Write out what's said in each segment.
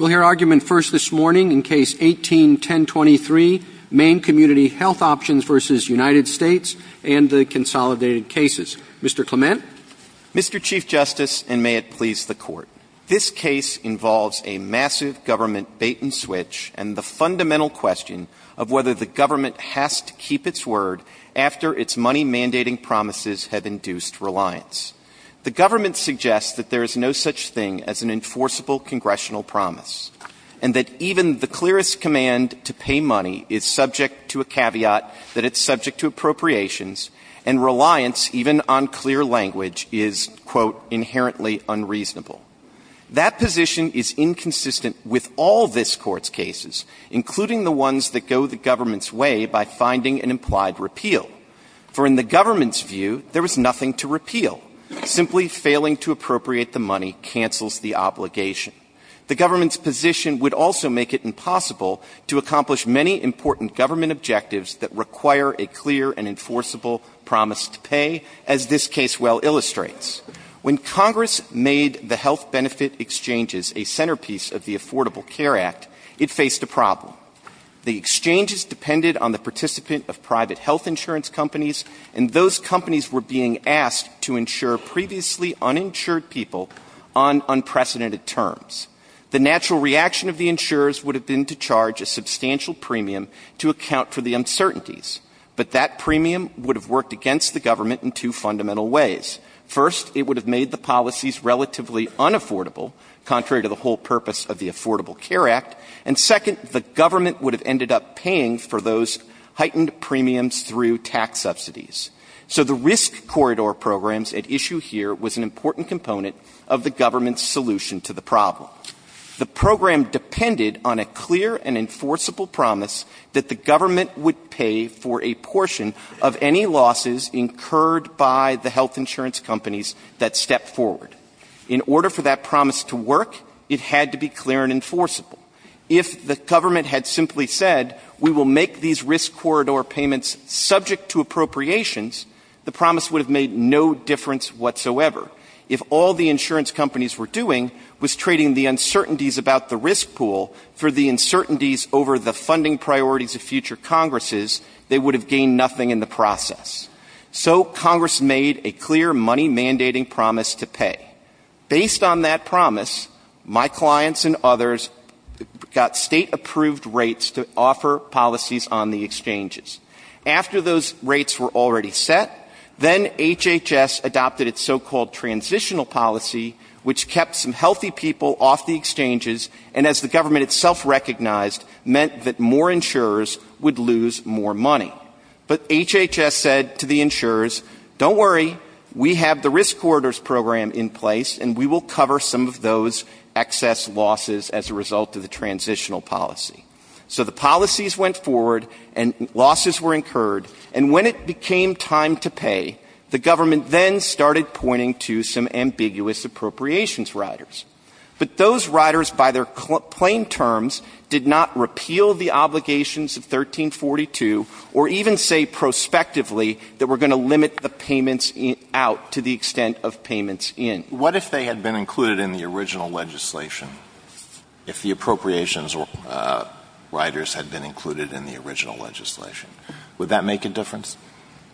and the Consolidated Cases. Mr. Clement. Mr. Chief Justice, and may it please the Court, this case involves a massive government bait-and-switch and the fundamental question of whether the government has to keep its word after its money-mandating promises have induced reliance. The government suggests that there is no such thing as an enforceable congressional promise. And that even the clearest command to pay money is subject to a caveat that it's subject to appropriations, and reliance, even on clear language, is, quote, inherently unreasonable. That position is inconsistent with all this Court's cases, including the ones that go the government's way by finding an implied repeal. For in the government's view, there was nothing to repeal. Simply failing to appropriate the money cancels the obligation. The government's position would also make it impossible to accomplish many important government objectives that require a clear and enforceable promise to pay, as this case well illustrates. When Congress made the health benefit exchanges a centerpiece of the Affordable Care Act, it faced a problem. The exchanges depended on the participant of private health insurance companies, and those companies were being asked to insure previously uninsured people on unprecedented terms. The natural reaction of the insurers would have been to charge a substantial premium to account for the uncertainties. But that premium would have worked against the government in two fundamental ways. First, it would have made the policies relatively unaffordable, contrary to the whole purpose of the Affordable Care Act. And second, the government would have ended up paying for those heightened premiums through tax subsidies. So the risk corridor programs at issue here was an important component of the government's solution to the problem. The program depended on a clear and enforceable promise that the government would pay for a portion of any losses incurred by the health insurance companies that stepped forward. In order for that promise to work, it had to be clear and enforceable. If the government had simply said, we will make these risk corridor payments subject to appropriations, the promise would have made no difference whatsoever. If all the insurance companies were doing was trading the uncertainties about the risk pool for the uncertainties over the funding priorities of future Congresses, they would have gained nothing in the process. So Congress made a clear money-mandating promise to pay. Based on that promise, my clients and others got state-approved rates to offer policies on the exchanges. After those rates were already set, then HHS adopted its so-called transitional policy, which kept some healthy people off the exchanges and, as the government itself recognized, meant that more insurers would lose more money. But HHS said to the insurers, don't worry, we have the risk corridors program in place and we will cover some of those excess losses as a result of the transitional policy. So the policies went forward and losses were incurred. And when it became time to pay, the government then started pointing to some ambiguous appropriations riders. But those riders, by their plain terms, did not repeal the obligations of 1342 or even say prospectively that we're going to limit the payments out to the extent of payments in. What if they had been included in the original legislation, if the appropriations riders had been included in the original legislation? Would that make a difference?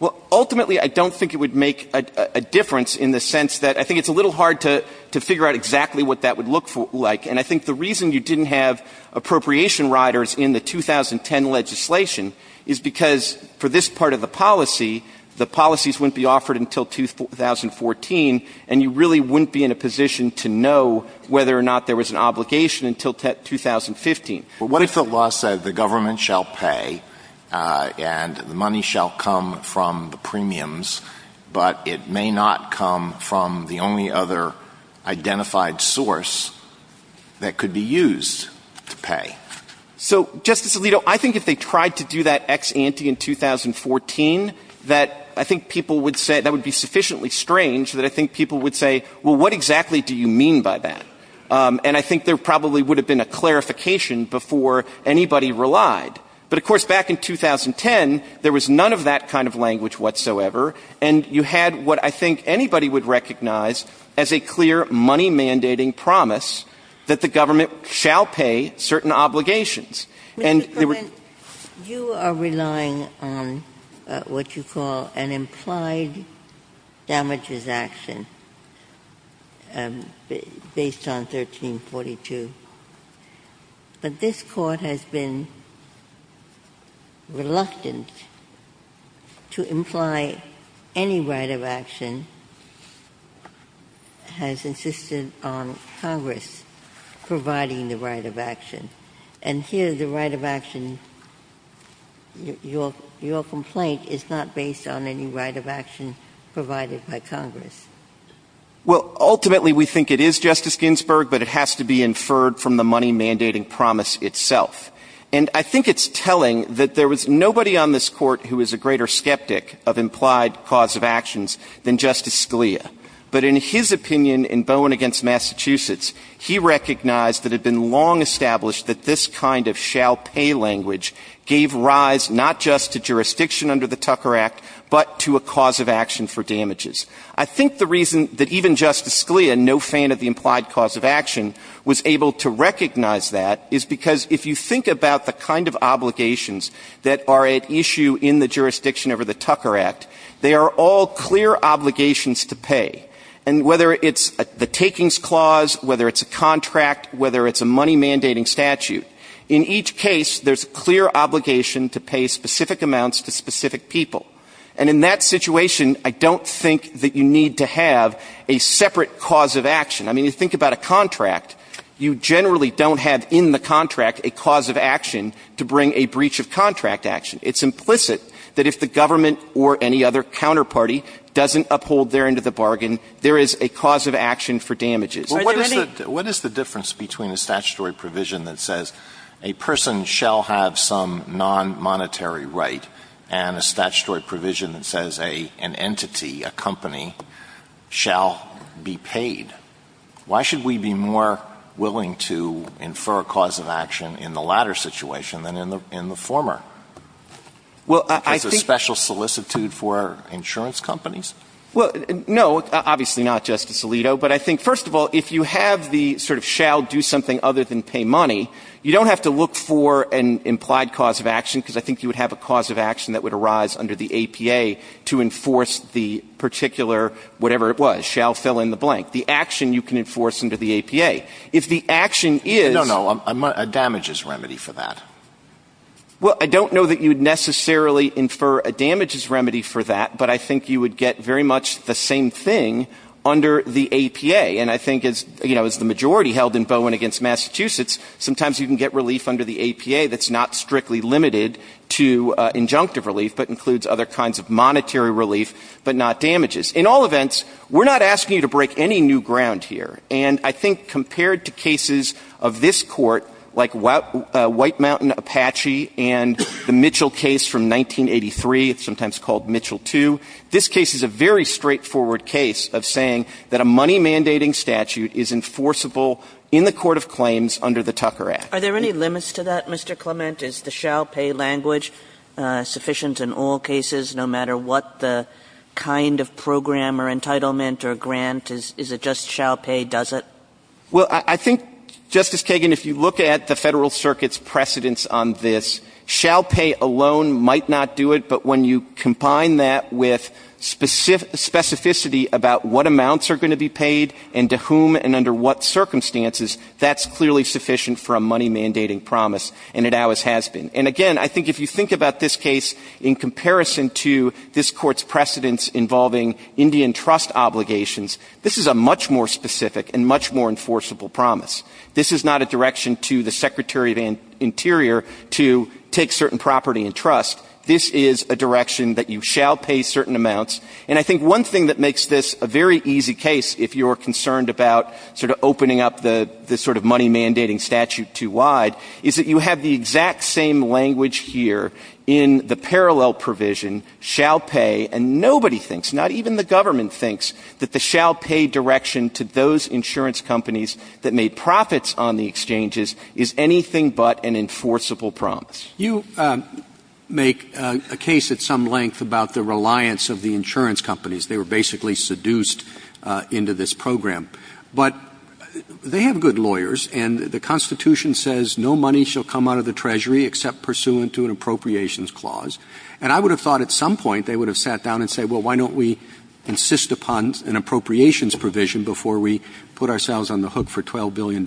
Well, ultimately, I don't think it would make a difference in the sense that I think it's a little hard to figure out exactly what that would look like. And I think the reason you didn't have appropriation riders in the 2010 legislation is because for this part of the policy, the policies wouldn't be offered until 2014 and you really wouldn't be in a position to know whether or not there was an obligation until 2015. What if the law said the government shall pay and the money shall come from the premiums, but it may not come from the only other identified source that could be used to pay? So, Justice Alito, I think if they tried to do that ex ante in 2014, that I think people would say that would be sufficiently strange that I think people would say, well, what exactly do you mean by that? And I think there probably would have been a clarification before anybody relied. But, of course, back in 2010, there was none of that kind of language whatsoever and you had what I think anybody would recognize as a clear money-mandating promise that the government shall pay certain obligations. Mr. Clement, you are relying on what you call an implied damages action based on 1342. But this Court has been reluctant to imply any right of action has insisted on Congress providing the right of action. And here the right of action, your complaint, is not based on any right of action provided by Congress. Well, ultimately we think it is, Justice Ginsburg, but it has to be inferred from the money-mandating promise itself. And I think it's telling that there was nobody on this Court who is a greater skeptic of implied cause of actions than Justice Scalia. But in his opinion in Bowen v. Massachusetts, he recognized that it had been long established that this kind of shall-pay language gave rise not just to jurisdiction under the Tucker Act, but to a cause of action for damages. I think the reason that even Justice Scalia, no fan of the implied cause of action, was able to recognize that is because if you think about the kind of obligations that are at issue in the jurisdiction under the Tucker Act, they are all clear obligations to pay. And whether it's the takings clause, whether it's a contract, whether it's a money-mandating statute, in each case there's a clear obligation to pay specific amounts to specific people. And in that situation, I don't think that you need to have a separate cause of action. I mean, you think about a contract. You generally don't have in the contract a cause of action to bring a breach of contract action. It's implicit that if the government or any other counterparty doesn't uphold their end of the bargain, there is a cause of action for damages. Alito, what is the difference between a statutory provision that says a person shall have some nonmonetary right and a statutory provision that says an entity, a company, shall be paid? Why should we be more willing to infer a cause of action in the latter situation than in the former? Is there a special solicitude for insurance companies? Well, no, obviously not, Justice Alito. But I think, first of all, if you have the sort of shall do something other than pay money, you don't have to look for an implied cause of action, because I think you would have a cause of action that would arise under the APA to enforce the particular whatever it was, shall fill in the blank, the action you can enforce under the APA. If the action is ‑‑ No, no, a damages remedy for that. Well, I don't know that you would necessarily infer a damages remedy for that, but I think you would get very much the same thing under the APA. And I think, you know, as the majority held in Bowen against Massachusetts, sometimes you can get relief under the APA that's not strictly limited to injunctive relief, but includes other kinds of monetary relief, but not damages. In all events, we're not asking you to break any new ground here. And I think compared to cases of this Court, like White Mountain Apache and the Mitchell case from 1983, sometimes called Mitchell II, this case is a very different case, because the application under the statute is enforceable in the court of claims under the Tucker Act. Are there any limits to that, Mr. Clement? Is the shall pay language sufficient in all cases, no matter what the kind of program or entitlement or grant? Is it just shall pay, does it? Well, I think, Justice Kagan, if you look at the Federal Circuit's precedence on this, shall pay alone might not do it, but when you combine that with specificity about what amounts are going to be paid and to whom and under what circumstances, that's clearly sufficient for a money-mandating promise, and it always has been. And again, I think if you think about this case in comparison to this Court's precedence involving Indian trust obligations, this is a much more specific and much more enforceable promise. This is not a direction to the Secretary of Interior to take certain property and trust. This is a direction that you shall pay certain amounts. And I think one thing that makes this a very easy case, if you're concerned about sort of opening up the sort of money-mandating statute too wide, is that you have the exact same language here in the parallel provision, shall pay, and nobody thinks, not even the government thinks, that the shall pay direction to those insurance companies that made profits on the exchanges is anything but an enforceable promise. Roberts. You make a case at some length about the reliance of the insurance companies. They were basically seduced into this program. But they have good lawyers, and the Constitution says no money shall come out of the Treasury except pursuant to an appropriations clause. And I would have thought at some point they would have sat down and said, well, why don't we insist upon an appropriations provision before we put ourselves on the hook for $12 billion?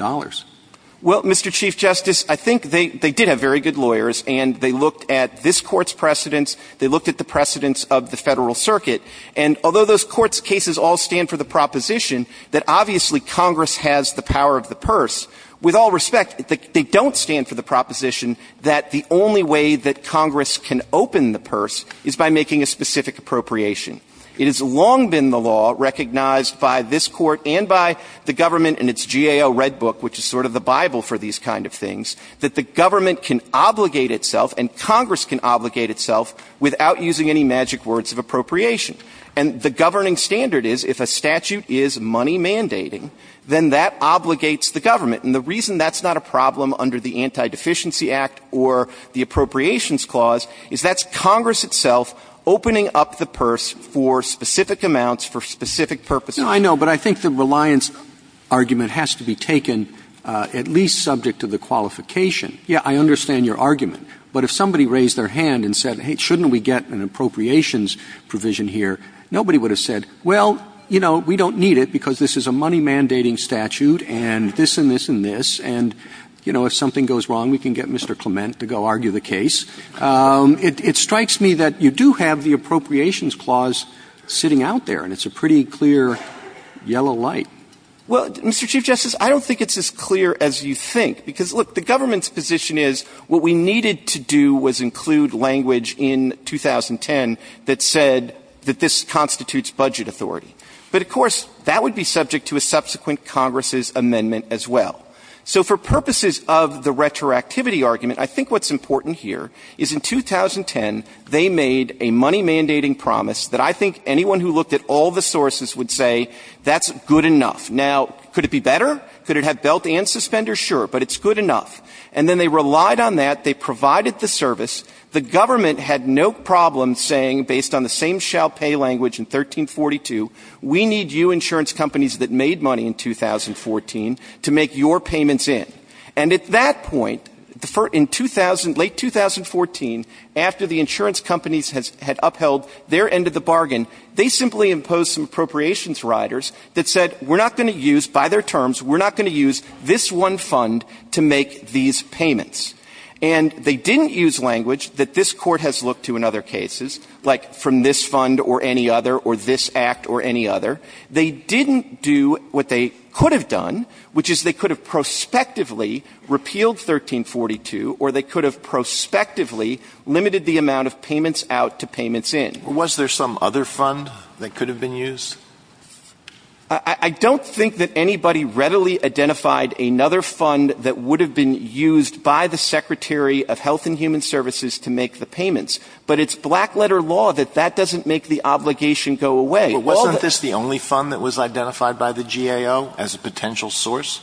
Well, Mr. Chief Justice, I think they did have very good lawyers, and they looked at this Court's precedents. They looked at the precedents of the Federal Circuit. And although those Court's cases all stand for the proposition that obviously Congress has the power of the purse, with all respect, they don't stand for the proposition that the only way that Congress can open the purse is by making a specific appropriation. It has long been the law recognized by this Court and by the government in its GAO Red Book, which is sort of the Bible for these kind of things, that the government can obligate itself and Congress can obligate itself without using any magic words of appropriation. And the governing standard is if a statute is money mandating, then that obligates the government. And the reason that's not a problem under the Anti-Deficiency Act or the Appropriations Clause is that's Congress itself opening up the purse for specific amounts, for specific purposes. Yeah, I know. But I think the reliance argument has to be taken at least subject to the qualification. Yeah, I understand your argument. But if somebody raised their hand and said, hey, shouldn't we get an appropriations provision here, nobody would have said, well, you know, we don't need it because this is a money mandating statute and this and this and this, and, you know, if something goes wrong, we can get Mr. Clement to go argue the case. It strikes me that you do have the Appropriations Clause sitting out there, and it's a pretty clear yellow light. Well, Mr. Chief Justice, I don't think it's as clear as you think. Because, look, the government's position is what we needed to do was include language in 2010 that said that this constitutes budget authority. But, of course, that would be subject to a subsequent Congress's amendment as well. So for purposes of the retroactivity argument, I think what's important here is in 2010 they made a money mandating promise that I think anyone who looked at all the sources would say that's good enough. Now, could it be better? Could it have belt and suspender? Sure. But it's good enough. And then they relied on that. They provided the service. The government had no problem saying, based on the same shall pay language in 1342, we need you insurance companies that made money in 2014 to make your payments in. And at that point, in 2000, late 2014, after the insurance companies had upheld their end of the bargain, they simply imposed some appropriations riders that said we're not going to use, by their terms, we're not going to use this one fund to make these payments. And they didn't use language that this Court has looked to in other cases, like from this fund or any other or this act or any other. They didn't do what they could have done, which is they could have prospectively repealed 1342 or they could have prospectively limited the amount of payments out to payments in. Was there some other fund that could have been used? I don't think that anybody readily identified another fund that would have been used by the Secretary of Health and Human Services to make the payments. But it's black letter law that that doesn't make the obligation go away. But wasn't this the only fund that was identified by the GAO as a potential source?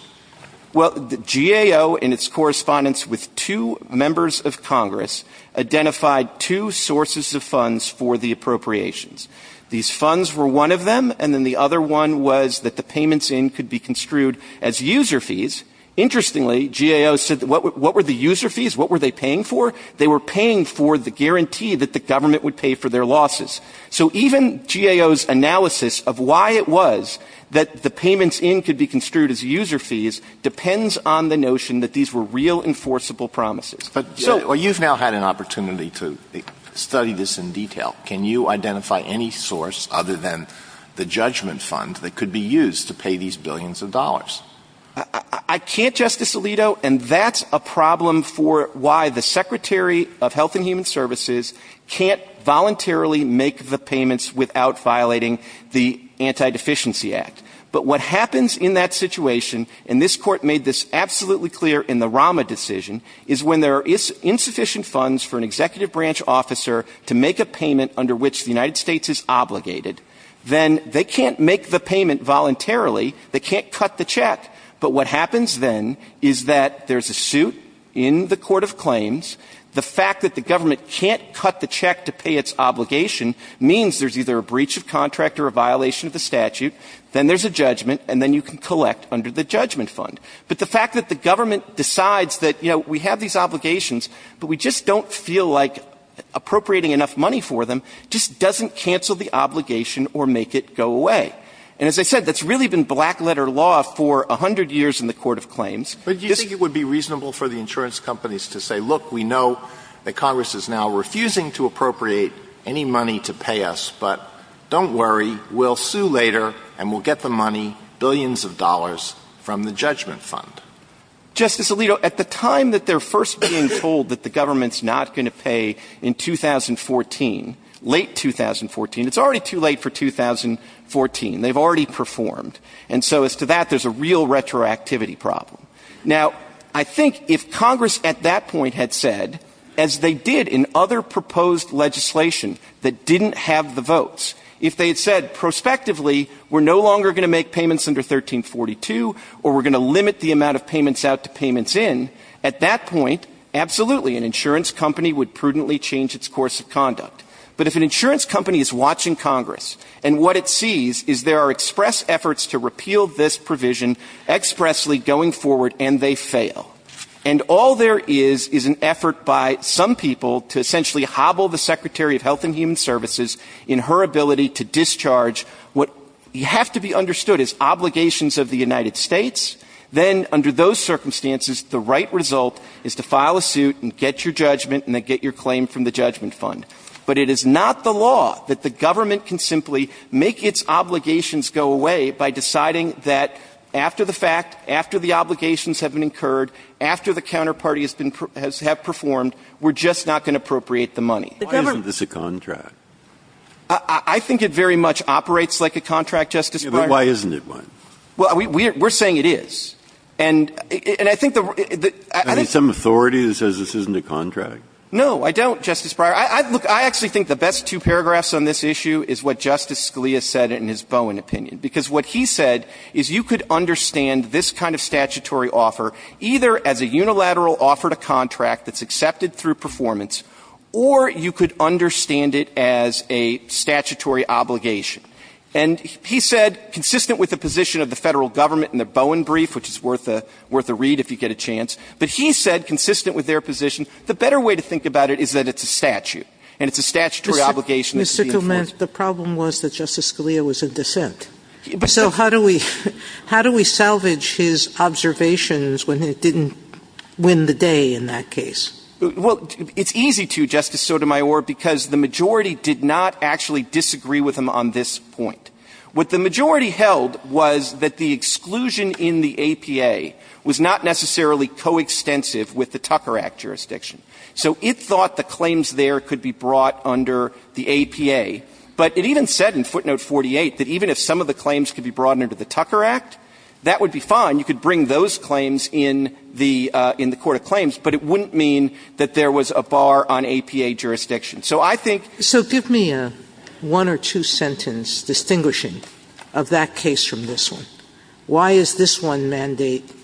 Well, the GAO, in its correspondence with two members of Congress, identified two sources of funds for the appropriations. These funds were one of them, and then the other one was that the payments in could be construed as user fees. Interestingly, GAO said what were the user fees? What were they paying for? They were paying for the guarantee that the government would pay for their losses. So even GAO's analysis of why it was that the payments in could be construed as user fees depends on the notion that these were real enforceable promises. But you've now had an opportunity to study this in detail. Can you identify any source other than the judgment fund that could be used to pay these billions of dollars? I can't, Justice Alito, and that's a problem for why the Secretary of Health and the Secretary of State are not able to make the payments without violating the Antideficiency Act. But what happens in that situation, and this Court made this absolutely clear in the Rama decision, is when there are insufficient funds for an executive branch officer to make a payment under which the United States is obligated, then they can't make the payment voluntarily. They can't cut the check. The fact that the government can't cut the check to pay its obligation means there's either a breach of contract or a violation of the statute, then there's a judgment, and then you can collect under the judgment fund. But the fact that the government decides that, you know, we have these obligations but we just don't feel like appropriating enough money for them just doesn't cancel the obligation or make it go away. And as I said, that's really been black-letter law for a hundred years in the Court of Claims. But do you think it would be reasonable for the insurance companies to say, look, we know that Congress is now refusing to appropriate any money to pay us, but don't worry, we'll sue later and we'll get the money, billions of dollars, from the judgment fund? Justice Alito, at the time that they're first being told that the government's not going to pay in 2014, late 2014, it's already too late for 2014. They've already performed. And so as to that, there's a real retroactivity problem. Now, I think if Congress at that point had said, as they did in other proposed legislation that didn't have the votes, if they had said prospectively, we're no longer going to make payments under 1342 or we're going to limit the amount of payments out to payments in, at that point, absolutely, an insurance company would prudently change its course of conduct. But if an insurance company is watching Congress and what it sees is there are express efforts to repeal this provision expressly going forward and they fail. And all there is is an effort by some people to essentially hobble the Secretary of Health and Human Services in her ability to discharge what have to be understood as obligations of the United States, then under those circumstances, the right result is to file a suit and get your judgment and then get your claim from the judgment fund. But it is not the law that the government can simply make its obligations go away by deciding that after the fact, after the obligations have been incurred, after the counterparty has been performed, we're just not going to appropriate the money. Breyer. Why isn't this a contract? I think it very much operates like a contract, Justice Breyer. Yeah, but why isn't it one? Well, we're saying it is. And I think the – I think the – Are you some authority that says this isn't a contract? No, I don't, Justice Breyer. Look, I actually think the best two paragraphs on this issue is what Justice Scalia said in his Bowen opinion, because what he said is you could understand this kind of statutory offer either as a unilateral offer to contract that's accepted through performance, or you could understand it as a statutory obligation. And he said, consistent with the position of the Federal Government in the Bowen brief, which is worth a read if you get a chance, but he said, consistent with their position, the better way to think about it is that it's a statute, and it's a statutory obligation that could be enforced. Mr. Clement, the problem was that Justice Scalia was in dissent. So how do we – how do we salvage his observations when it didn't win the day in that case? Well, it's easy to, Justice Sotomayor, because the majority did not actually disagree with him on this point. What the majority held was that the exclusion in the APA was not necessarily coextensive with the Tucker Act jurisdiction. So it thought the claims there could be brought under the APA. But it even said in footnote 48 that even if some of the claims could be brought under the Tucker Act, that would be fine. You could bring those claims in the – in the court of claims, but it wouldn't mean that there was a bar on APA jurisdiction. So I think – So give me a one or two sentence distinguishing of that case from this one. Why is this one mandate –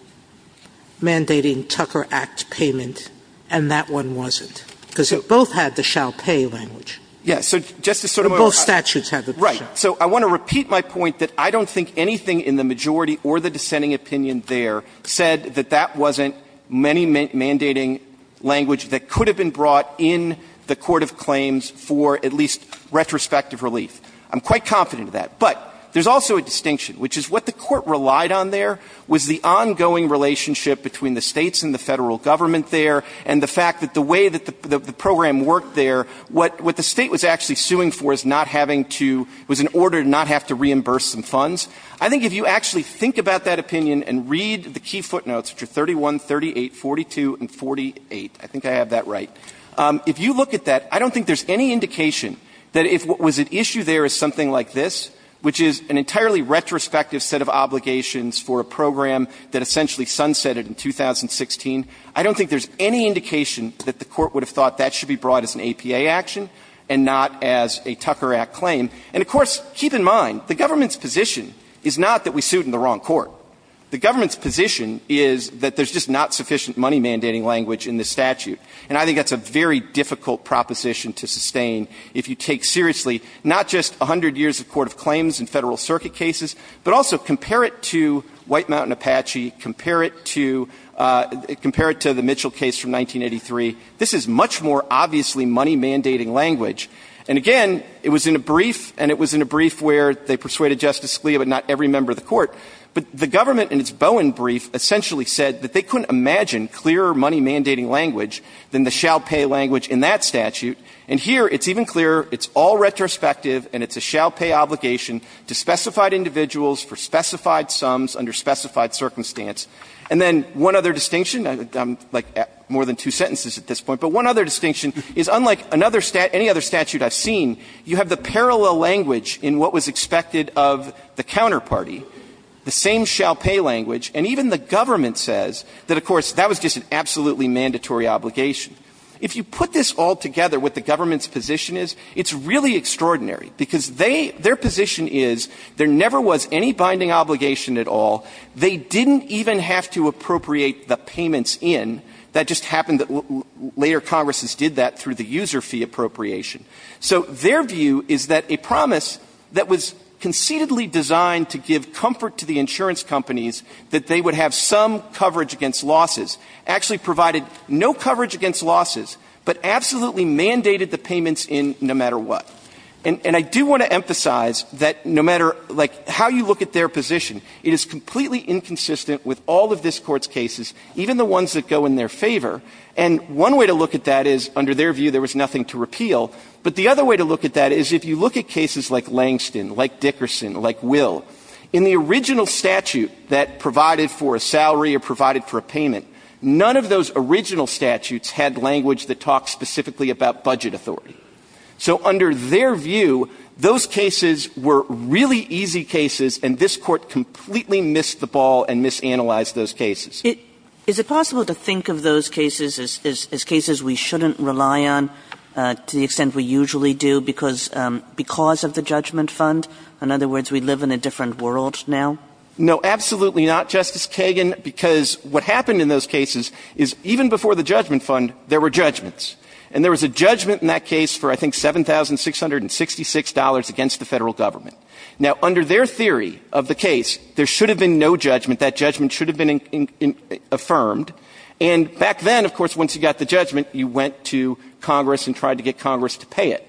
mandating Tucker Act payment and that one wasn't? Because they both had the shall pay language. Yeah. So, Justice Sotomayor, I – And both statutes have it. Right. So I want to repeat my point that I don't think anything in the majority or the dissenting opinion there said that that wasn't many mandating language that could have been brought in the court of claims for at least retrospective relief. I'm quite confident of that. But there's also a distinction, which is what the court relied on there was the ongoing relationship between the states and the federal government there and the fact that the way that the program worked there, what the state was actually suing for is not having to – was in order to not have to reimburse some funds. I think if you actually think about that opinion and read the key footnotes, which are 31, 38, 42, and 48 – I think I have that right – if you look at that, I don't think there's any indication that if what was at issue there is something like this, which is an entirely retrospective set of obligations for a program that essentially sunsetted in 2016. I don't think there's any indication that the court would have thought that should be brought as an APA action and not as a Tucker Act claim. And of course, keep in mind, the government's position is not that we sued in the wrong court. The government's position is that there's just not sufficient money mandating language in this statute. And I think that's a very difficult proposition to sustain if you take seriously not just 100 years of court of claims and Federal Circuit cases, but also compare it to White Mountain Apache, compare it to – compare it to the Mitchell case from 1983. This is much more obviously money mandating language. And again, it was in a brief, and it was in a brief where they persuaded Justice Scalia, but not every member of the Court. But the government in its Bowen brief essentially said that they couldn't imagine clearer money mandating language than the shall pay language in that statute. And here, it's even clearer. It's all retrospective, and it's a shall pay obligation to specified individuals for specified sums under specified circumstance. And then one other distinction, like more than two sentences at this point, but one other distinction is unlike another – any other statute I've seen, you have the parallel language in what was expected of the counterparty, the same shall pay language. And even the government says that, of course, that was just an absolutely mandatory obligation. If you put this all together, what the government's position is, it's really extraordinary, because they – their position is there never was any binding obligation at all. They didn't even have to appropriate the payments in. That just happened that later Congresses did that through the user fee appropriation. So their view is that a promise that was conceitedly designed to give comfort to the insurance companies, that they would have some coverage against losses, actually provided no coverage against losses, but absolutely mandated the payments in no matter what. And I do want to emphasize that no matter, like, how you look at their position, it is completely inconsistent with all of this Court's cases, even the ones that go in their favor. And one way to look at that is, under their view, there was nothing to repeal. But the other way to look at that is if you look at cases like Langston, like Dickerson, like Will, in the original statute that provided for a salary or provided for a payment, none of those original statutes had language that talked specifically about budget authority. So under their view, those cases were really easy cases, and this Court completely missed the ball and misanalyzed those cases. Kagan. Is it possible to think of those cases as cases we shouldn't rely on to the extent we usually do because of the judgment fund? In other words, we live in a different world now? No, absolutely not, Justice Kagan, because what happened in those cases is even before the judgment fund, there were judgments. And there was a judgment in that case for, I think, $7,666 against the Federal Government. Now, under their theory of the case, there should have been no judgment. That judgment should have been affirmed. And back then, of course, once you got the judgment, you went to Congress and tried to get Congress to pay it.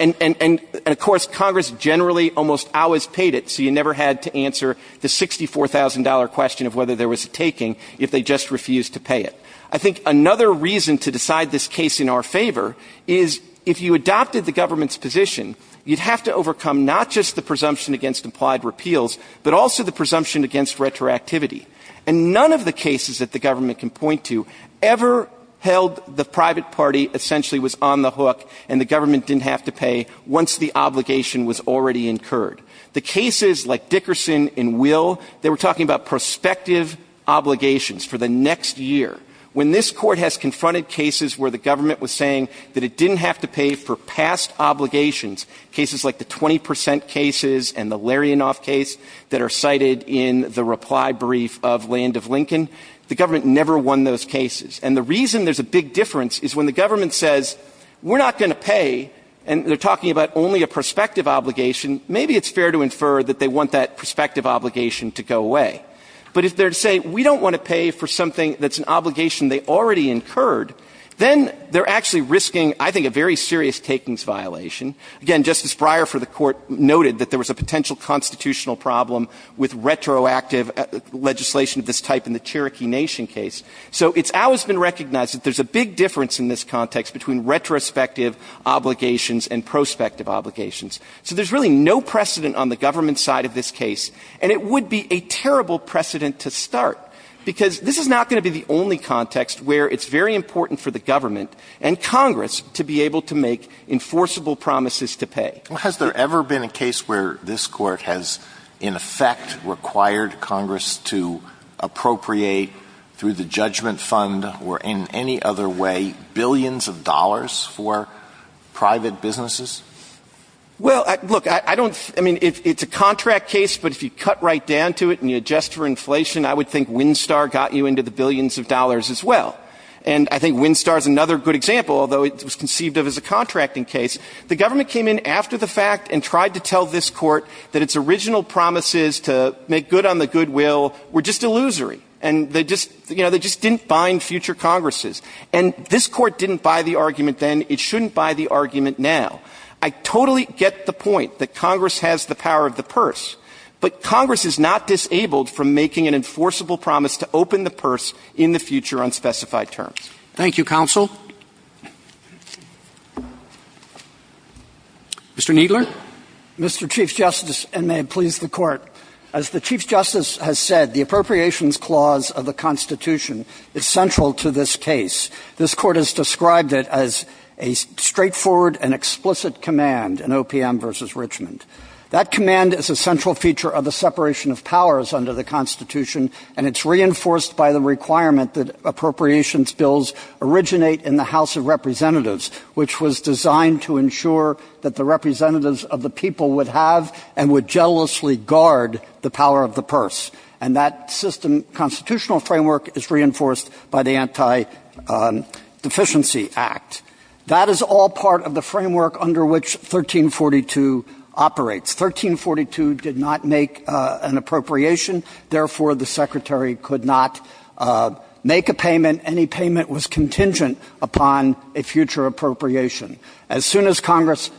And of course, Congress generally almost always paid it, so you never had to answer the $64,000 question of whether there was a taking if they just refused to pay it. I think another reason to decide this case in our favor is if you adopted the government's position, you'd have to overcome not just the presumption against implied repeals, but also the presumption against retroactivity. And none of the cases that the government can point to ever held the private party essentially was on the hook, and the government didn't have to pay once the obligation was already incurred. The cases like Dickerson and Will, they were talking about prospective obligations for the next year. When this Court has confronted cases where the government was saying that it didn't have to pay for past obligations, cases like the 20 percent cases and the Larianoff case that are cited in the reply brief of Land of Lincoln, the government never won those cases. And the reason there's a big difference is when the government says, we're not going to pay, and they're talking about only a prospective obligation, maybe it's fair to infer that they want that prospective obligation to go away. But if they're to say, we don't want to pay for something that's an obligation they already incurred, then they're actually risking, I think, a very serious takings violation. Again, Justice Breyer for the Court noted that there was a potential constitutional problem with retroactive legislation of this type in the Cherokee Nation case. So it's always been recognized that there's a big difference in this context between retrospective obligations and prospective obligations. So there's really no precedent on the government side of this case, and it would be a terrible precedent to start, because this is not going to be the only context where it's very important for the government and Congress to be able to make enforceable promises to pay. Alitoson Has there ever been a case where this Court has, in effect, required Congress to appropriate, through the judgment fund or in any other way, billions of dollars for private businesses? Well, look, I don't – I mean, it's a contract case, but if you cut right down to it and you adjust for inflation, I would think Winstar got you into the billions of dollars as well. And I think Winstar is another good example, although it was conceived of as a contracting case. The government came in after the fact and tried to tell this Court that its original promises to make good on the goodwill were just illusory, and they just – you know, they just didn't bind future Congresses. And this Court didn't buy the argument then. It shouldn't buy the argument now. I totally get the point that Congress has the power of the purse, but Congress is not disabled from making an enforceable promise to open the purse in the future on specified terms. Thank you, counsel. Mr. Kneedler. Mr. Chief Justice, and may it please the Court. As the Chief Justice has said, the Appropriations Clause of the Constitution is central to this case. This Court has described it as a straightforward and explicit command in OPM v. Richmond. That command is a central feature of the separation of powers under the Constitution, and it's reinforced by the requirement that appropriations bills originate in the people would have and would jealously guard the power of the purse. And that system – constitutional framework is reinforced by the Anti-Deficiency Act. That is all part of the framework under which 1342 operates. 1342 did not make an appropriation. Therefore, the Secretary could not make a payment. Any payment was contingent upon a future appropriation. As soon as Congress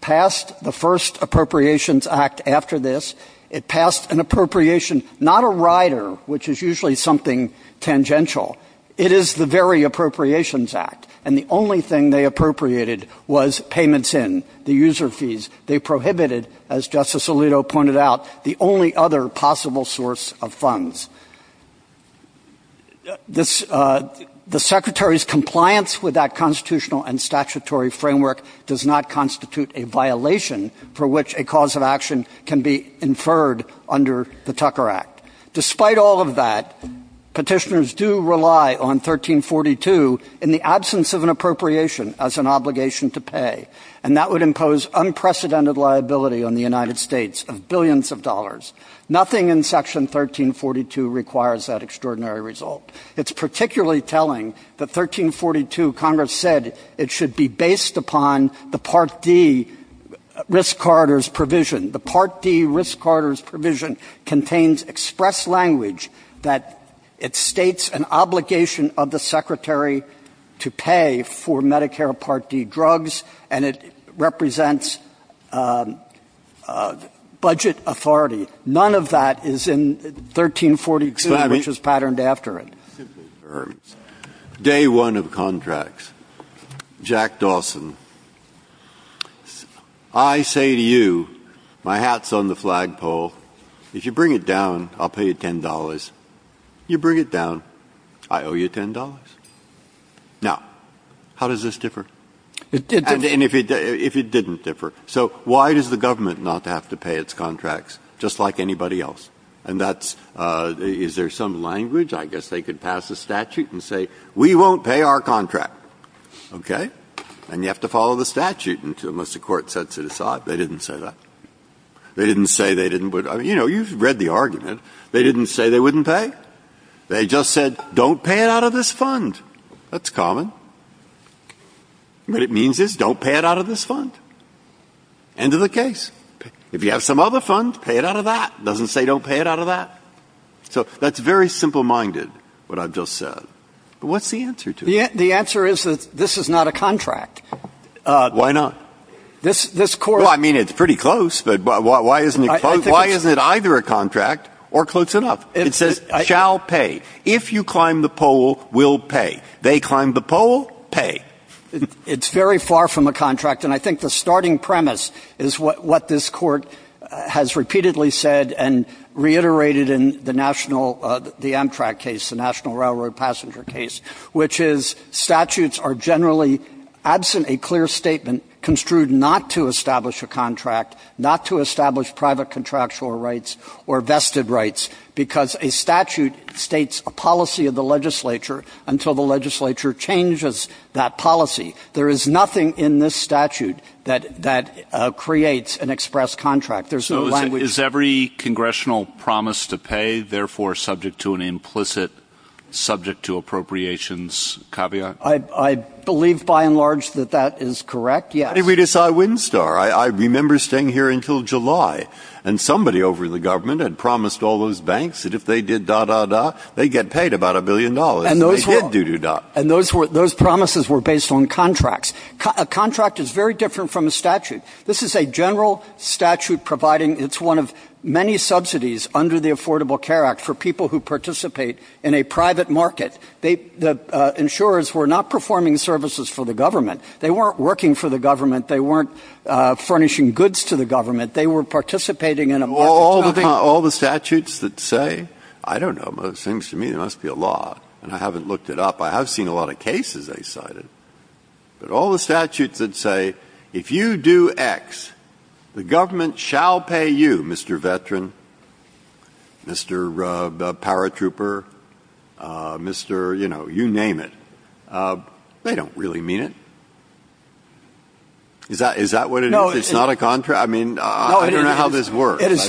passed the first Appropriations Act after this, it passed an appropriation, not a rider, which is usually something tangential. It is the very Appropriations Act. And the only thing they appropriated was payments in, the user fees. They prohibited, as Justice Alito pointed out, the only other possible source of funds. The Secretary's compliance with that constitutional and statutory framework does not constitute a violation for which a cause of action can be inferred under the Tucker Act. Despite all of that, petitioners do rely on 1342 in the absence of an appropriation as an obligation to pay. And that would impose unprecedented liability on the United States of billions of dollars. Nothing in Section 1342 requires that extraordinary result. It's particularly telling that 1342, Congress said it should be based upon the Part D risk corridors provision. The Part D risk corridors provision contains express language that it states an obligation of the Secretary to pay for Medicare Part D drugs, and it represents budget authority. None of that is in 1342, which is patterned after it. Day one of contracts. Jack Dawson, I say to you, my hat's on the flagpole. If you bring it down, I'll pay you $10. You bring it down, I owe you $10. Now, how does this differ? And if it didn't differ, so why does the government not have to pay its contracts just like anybody else? And that's, is there some language? I guess they could pass a statute and say, we won't pay our contract. Okay? And you have to follow the statute, unless the Court sets it aside. They didn't say that. They didn't say they didn't. I mean, you know, you've read the argument. They didn't say they wouldn't pay. They just said, don't pay it out of this fund. That's common. What it means is, don't pay it out of this fund. End of the case. If you have some other fund, pay it out of that. It doesn't say don't pay it out of that. So that's very simple-minded, what I've just said. But what's the answer to it? The answer is that this is not a contract. Why not? This Court — Well, I mean, it's pretty close, but why isn't it close? Why isn't it either a contract or close enough? It says, shall pay. If you climb the pole, we'll pay. They climb the pole, pay. It's very far from a contract. And I think the starting premise is what this Court has repeatedly said and reiterated in the national — the Amtrak case, the National Railroad Passenger case, which is statutes are generally, absent a clear statement, construed not to establish a contract, not to establish private contractual rights or vested rights, because a statute states a policy of the legislature until the legislature changes that policy. There is nothing in this statute that creates an express contract. There's no language — So is every congressional promise to pay therefore subject to an implicit subject-to-appropriations caveat? I believe, by and large, that that is correct, yes. How did we decide Windstar? I remember staying here until July. And somebody over in the government had promised all those banks that if they did da-da-da, they'd get paid about a billion dollars. And they did do-do-da. And those promises were based on contracts. A contract is very different from a statute. This is a general statute providing — it's one of many subsidies under the Affordable Care Act for people who participate in a private market. The insurers were not performing services for the government. They weren't working for the government. They weren't furnishing goods to the government. They were participating in a private market. All the things — all the statutes that say — I don't know. Most things to me, there must be a lot. And I haven't looked it up. I have seen a lot of cases they cited. But all the statutes that say if you do X, the government shall pay you, Mr. Veteran, Mr. Paratrooper, Mr. — you know, you name it. They don't really mean it. Is that — is that what it is? No. It's not a contract? I mean, I don't know how this works. It is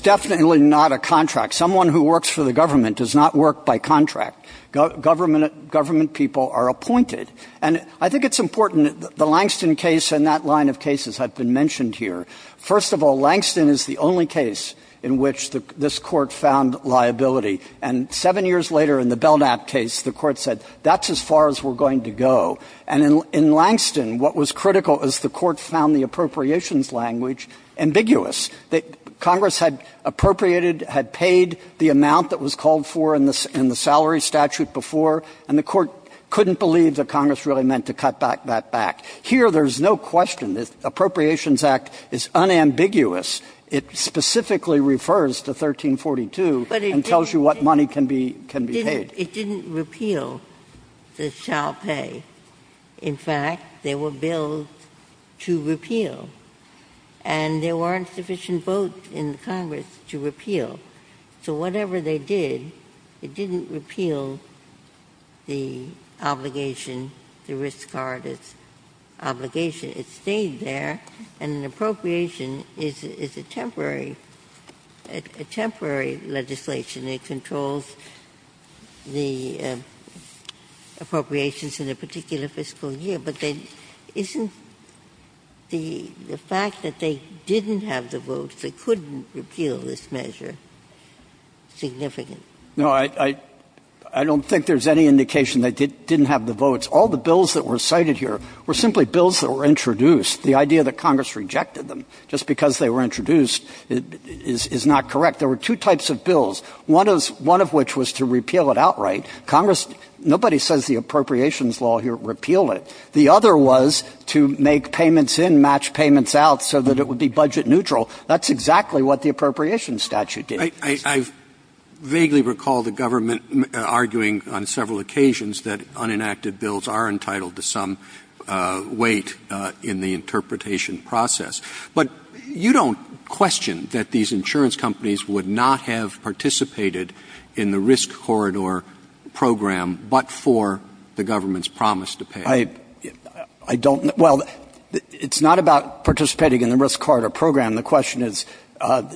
definitely not a contract. Someone who works for the government does not work by contract. Government people are appointed. And I think it's important, the Langston case and that line of cases have been mentioned here. First of all, Langston is the only case in which this Court found liability. And seven years later in the Belknap case, the Court said that's as far as we're going to go. And in Langston, what was critical is the Court found the appropriations language ambiguous. Congress had appropriated, had paid the amount that was called for in the salary statute before, and the Court couldn't believe that Congress really meant to cut that back. Here, there's no question. The Appropriations Act is unambiguous. It specifically refers to 1342 and tells you what money can be paid. It didn't repeal the child pay. In fact, there were bills to repeal, and there weren't sufficient votes in Congress to repeal. So whatever they did, it didn't repeal the obligation, the risk-card obligation. It stayed there, and an appropriation is a temporary legislation. It controls the appropriations in a particular fiscal year. But isn't the fact that they didn't have the votes, they couldn't repeal this measure, significant? No, I don't think there's any indication they didn't have the votes. All the bills that were cited here were simply bills that were introduced. The idea that Congress rejected them just because they were introduced is not correct. There were two types of bills, one of which was to repeal it outright. Congress, nobody says the appropriations law here repealed it. The other was to make payments in, match payments out, so that it would be budget neutral. That's exactly what the appropriations statute did. Roberts. I vaguely recall the government arguing on several occasions that unenacted bills are entitled to some weight in the interpretation process. But you don't question that these insurance companies would not have participated in the risk corridor program but for the government's promise to pay. I don't. Well, it's not about participating in the risk corridor program. The question is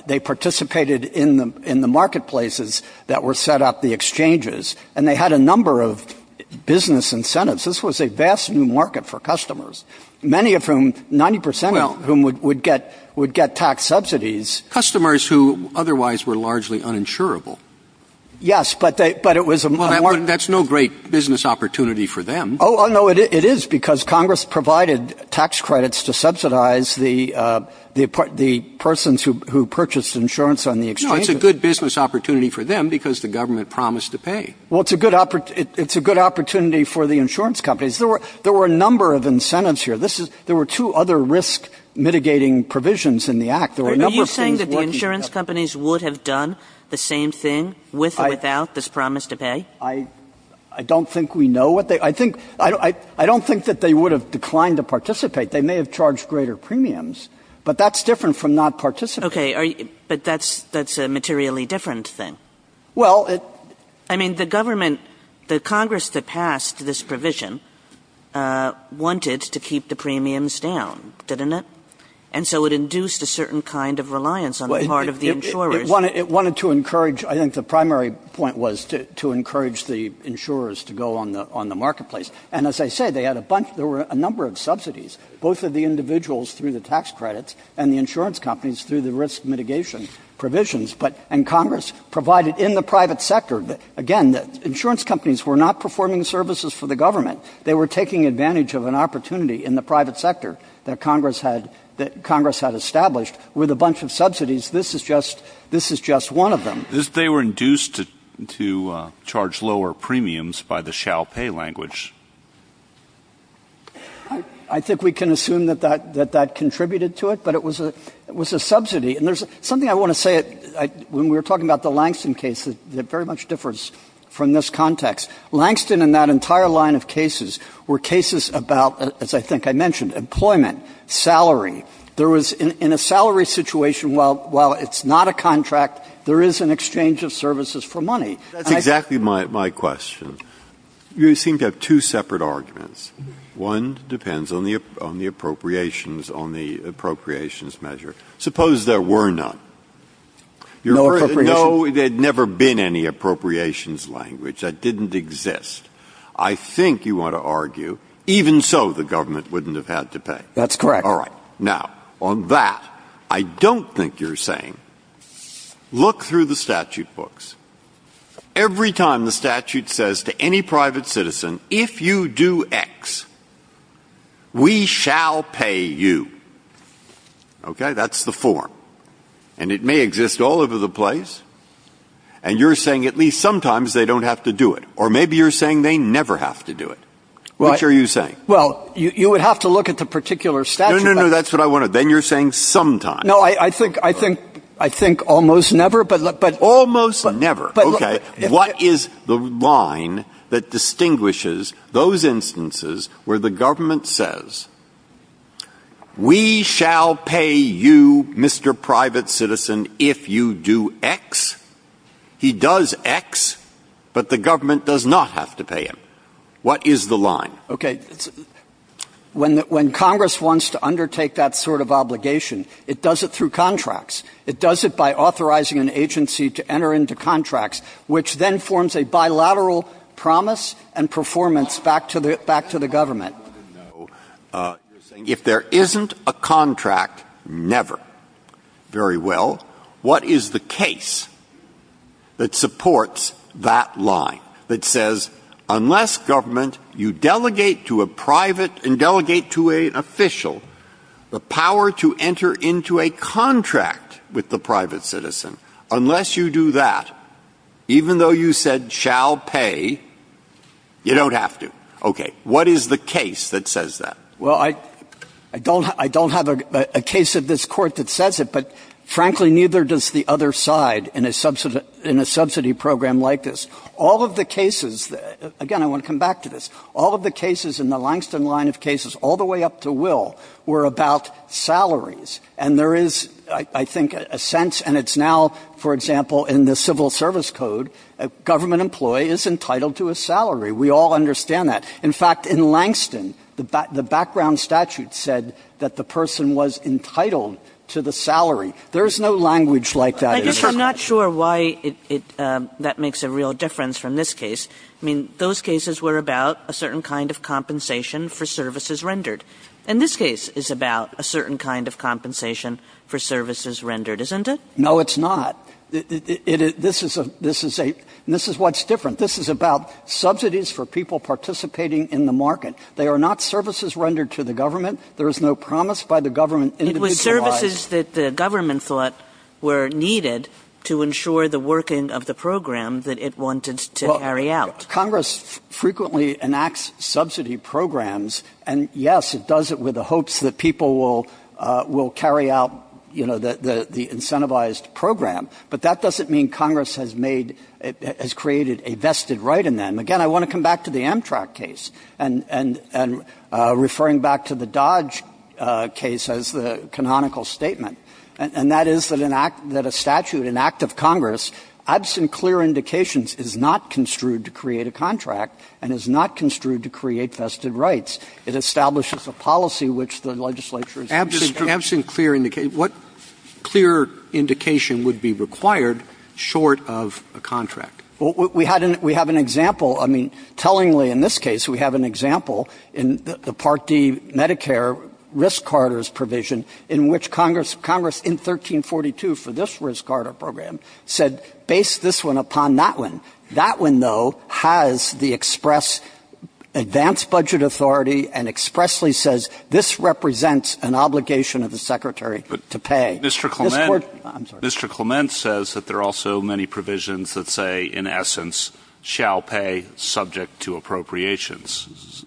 they participated in the marketplaces that were set up, the exchanges, and they had a number of business incentives. This was a vast new market for customers, many of whom, 90 percent of whom would get tax subsidies. Customers who otherwise were largely uninsurable. Yes, but it was a market. Well, that's no great business opportunity for them. Oh, no, it is because Congress provided tax credits to subsidize the persons who purchased insurance on the exchanges. No, it's a good business opportunity for them because the government promised to pay. Well, it's a good opportunity for the insurance companies. There were a number of incentives here. There were two other risk-mitigating provisions in the Act. Are you saying that the insurance companies would have done the same thing with or without this promise to pay? I don't think we know what they – I don't think that they would have declined to participate. They may have charged greater premiums, but that's different from not participating. Okay. But that's a materially different thing. Well, it – I mean, the government – the Congress that passed this provision wanted to keep the premiums down, didn't it? And so it induced a certain kind of reliance on the part of the insurers. It wanted to encourage – I think the primary point was to encourage the insurers to go on the marketplace. And as I say, they had a bunch – there were a number of subsidies, both of the individuals through the tax credits and the insurance companies through the risk mitigation provisions. But – and Congress provided in the private sector – again, the insurance companies were not performing services for the government. They were taking advantage of an opportunity in the private sector that Congress had – that Congress had established with a bunch of subsidies. This is just – this is just one of them. They were induced to charge lower premiums by the shall pay language. I think we can assume that that contributed to it, but it was a subsidy. And there's something I want to say. When we were talking about the Langston case, it very much differs from this context. Langston and that entire line of cases were cases about, as I think I mentioned, employment, salary. There was – in a salary situation, while it's not a contract, there is an exchange of services for money. And I think— Breyer— That's exactly my question. You seem to have two separate arguments. One depends on the – on the appropriations – on the appropriations measure. Suppose there were none. No appropriations. No, there had never been any appropriations language. That didn't exist. I think you want to argue, even so, the government wouldn't have had to pay. That's correct. All right. Now, on that, I don't think you're saying – look through the statute books. Every time the statute says to any private citizen, if you do X, we shall pay you. Okay? That's the form. And it may exist all over the place. And you're saying at least sometimes they don't have to do it. Or maybe you're saying they never have to do it. What are you saying? Well, you would have to look at the particular statute. No, no, no. That's what I wanted. Then you're saying sometimes. No, I think – I think almost never, but— Almost never. Okay. What is the line that distinguishes those instances where the government says, we shall pay you, Mr. Private Citizen, if you do X? He does X, but the government does not have to pay him. What is the line? Okay. When Congress wants to undertake that sort of obligation, it does it through contracts. It does it by authorizing an agency to enter into contracts, which then forms a bilateral promise and performance back to the government. No. You're saying if there isn't a contract, never. Very well. What is the case that supports that line that says, unless government, you delegate to a private and delegate to an official, the power to enter into a contract with the private citizen, unless you do that, even though you said shall pay, you don't have to? Okay. What is the case that says that? Well, I don't have a case of this Court that says it, but, frankly, neither does the other side in a subsidy program like this. All of the cases – again, I want to come back to this. All of the cases in the Langston line of cases, all the way up to Will, were about salaries, and there is, I think, a sense, and it's now, for example, in the Civil Service Code, a government employee is entitled to a salary. We all understand that. In fact, in Langston, the background statute said that the person was entitled to the salary. There is no language like that. I'm just not sure why that makes a real difference from this case. I mean, those cases were about a certain kind of compensation for services rendered. And this case is about a certain kind of compensation for services rendered, isn't it? No, it's not. This is a – this is what's different. This is about subsidies for people participating in the market. They are not services rendered to the government. There is no promise by the government individualized. It was services that the government thought were needed to ensure the working of the program that it wanted to carry out. Well, Congress frequently enacts subsidy programs. And, yes, it does it with the hopes that people will carry out, you know, the incentivized program. But that doesn't mean Congress has made – has created a vested right in them. Again, I want to come back to the Amtrak case and referring back to the Dodge case as the canonical statement. And that is that an act – that a statute, an act of Congress, absent clear indications, is not construed to create a contract and is not construed to create vested rights. It establishes a policy which the legislature is – Absent clear – what clear indication would be required short of a contract? We had an – we have an example. I mean, tellingly, in this case, we have an example in the Part D Medicare risk carders provision in which Congress in 1342 for this risk carder program said base this one upon that one. That one, though, has the express advance budget authority and expressly says this represents an obligation of the secretary to pay. Mr. Clement – I'm sorry. Mr. Clement says that there are also many provisions that say, in essence, shall pay subject to appropriations.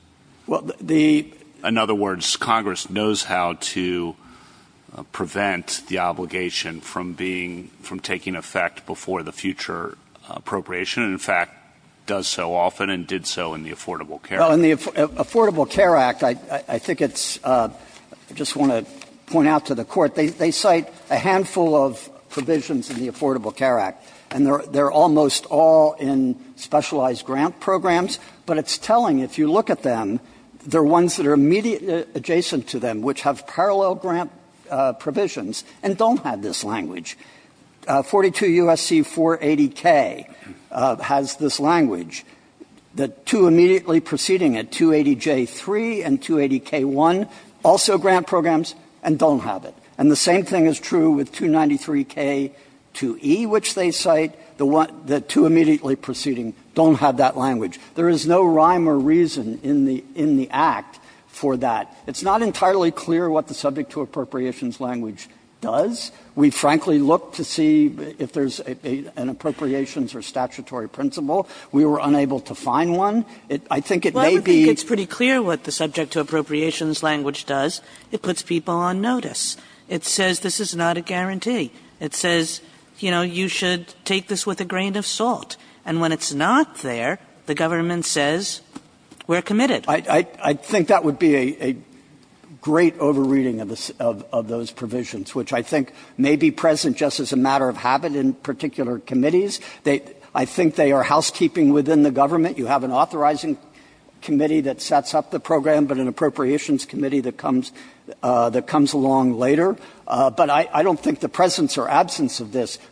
Well, the – In other words, Congress knows how to prevent the obligation from being – from taking effect before the future appropriation, and in fact does so often and did so in the Affordable Care Act. Well, in the Affordable Care Act, I think it's – I just want to point out to the Court, they cite a handful of provisions in the Affordable Care Act, and they're almost all in specialized grant programs, but it's telling. If you look at them, they're ones that are immediately adjacent to them, which have parallel grant provisions and don't have this language. 42 U.S.C. 480K has this language. The two immediately preceding it, 280J3 and 280K1, also grant programs and don't have it. And the same thing is true with 293K2E, which they cite. The two immediately preceding don't have that language. There is no rhyme or reason in the – in the Act for that. It's not entirely clear what the subject to appropriations language does. We frankly look to see if there's an appropriations or statutory principle. We were unable to find one. I think it may be – Well, I think it's pretty clear what the subject to appropriations language does. It puts people on notice. It says this is not a guarantee. It says, you know, you should take this with a grain of salt. And when it's not there, the government says, we're committed. I think that would be a great over-reading of those provisions, which I think may be present just as a matter of habit in particular committees. I think they are housekeeping within the government. You have an authorizing committee that sets up the program, but an appropriations committee that comes along later. But I don't think the presence or absence of this –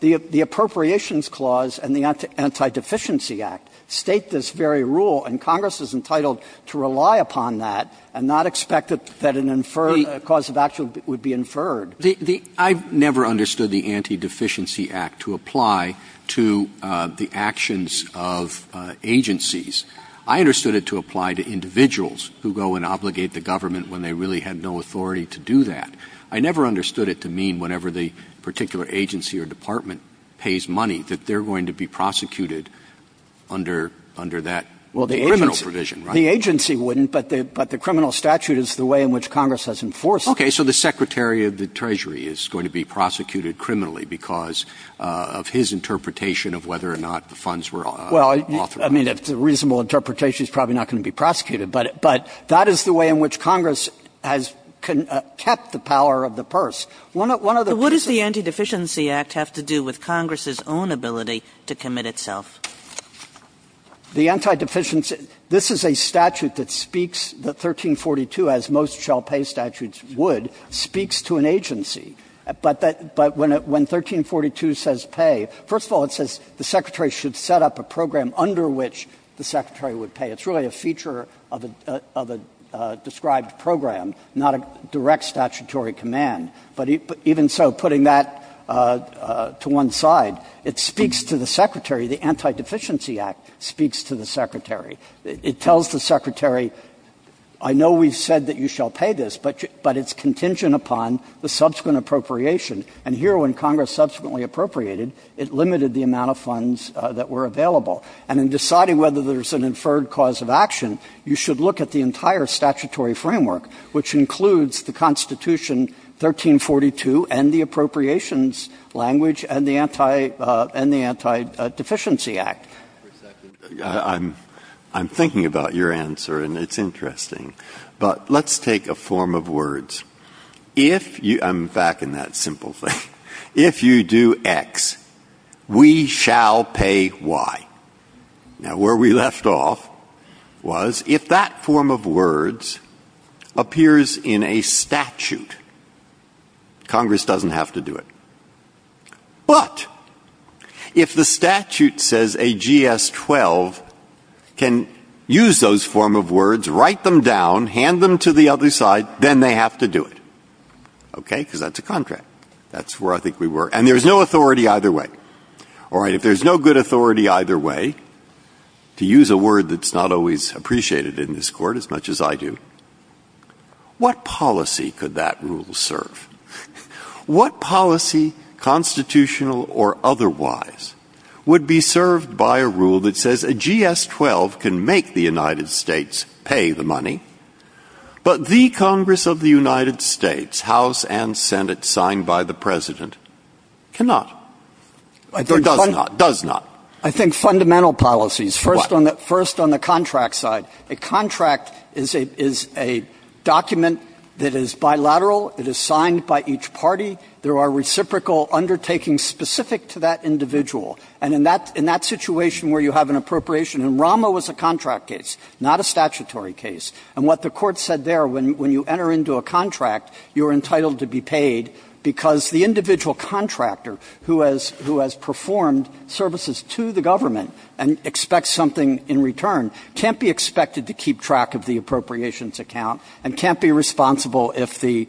the appropriations clause and the Anti-Deficiency Act state this very rule. And Congress is entitled to rely upon that and not expect that an inferred cause of action would be inferred. I've never understood the Anti-Deficiency Act to apply to the actions of agencies. I understood it to apply to individuals who go and obligate the government when they really had no authority to do that. I never understood it to mean whenever the particular agency or department pays money that they're going to be prosecuted under that criminal provision. Right? The agency wouldn't, but the criminal statute is the way in which Congress has enforced it. Okay. So the Secretary of the Treasury is going to be prosecuted criminally because of his interpretation of whether or not the funds were authorized. Well, I mean, if it's a reasonable interpretation, he's probably not going to be prosecuted. But that is the way in which Congress has kept the power of the purse. One of the pieces of the Anti-Deficiency Act has to do with Congress's own ability to commit itself. The Anti-Deficiency Act, this is a statute that speaks that 1342, as most shall pay statutes would, speaks to an agency. But when 1342 says pay, first of all, it says the Secretary should set up a program under which the Secretary would pay. It's really a feature of a described program, not a direct statutory command. But even so, putting that to one side, it speaks to the Secretary. The Anti-Deficiency Act speaks to the Secretary. It tells the Secretary, I know we've said that you shall pay this, but it's contingent upon the subsequent appropriation. And here, when Congress subsequently appropriated, it limited the amount of funds that were available. And in deciding whether there's an inferred cause of action, you should look at the appropriations language and the Anti-Deficiency Act. I'm thinking about your answer, and it's interesting. But let's take a form of words. I'm back in that simple thing. If you do X, we shall pay Y. Now, where we left off was if that form of words appears in a statute, Congress doesn't have to do it. But if the statute says a GS-12 can use those form of words, write them down, hand them to the other side, then they have to do it. Okay? Because that's a contract. That's where I think we were. And there's no authority either way. All right. If there's no good authority either way, to use a word that's not always appreciated in this Court as much as I do, what policy could that rule serve? What policy, constitutional or otherwise, would be served by a rule that says a GS-12 can make the United States pay the money, but the Congress of the United States, House and Senate, signed by the President, cannot? Or does not? Does not? I think fundamental policies. What? First on the contract side. A contract is a document that is bilateral. It is signed by each party. There are reciprocal undertakings specific to that individual. And in that situation where you have an appropriation, and Rama was a contract case, not a statutory case. And what the Court said there, when you enter into a contract, you're entitled to be paid because the individual contractor who has performed services to the government and expects something in return, can't be expected to keep track of the appropriations account and can't be responsible if the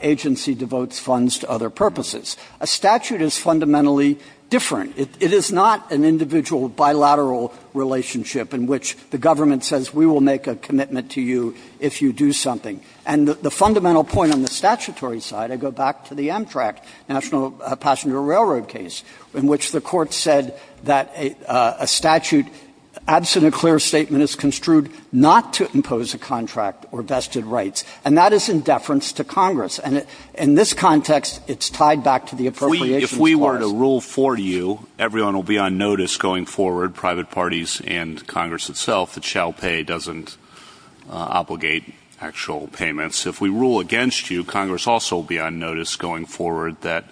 agency devotes funds to other purposes. A statute is fundamentally different. It is not an individual bilateral relationship in which the government says we will make a commitment to you if you do something. And the fundamental point on the statutory side, I go back to the Amtrak National Passenger Railroad case, in which the Court said that a statute, absent a clear statement, is construed not to impose a contract or vested rights. And that is in deference to Congress. And in this context, it's tied back to the appropriations clause. If we were to rule for you, everyone will be on notice going forward, private appropriations obligate actual payments. If we rule against you, Congress also will be on notice going forward that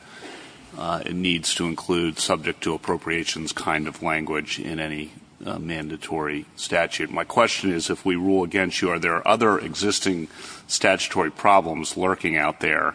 it needs to include subject to appropriations kind of language in any mandatory statute. My question is, if we rule against you, are there other existing statutory problems lurking out there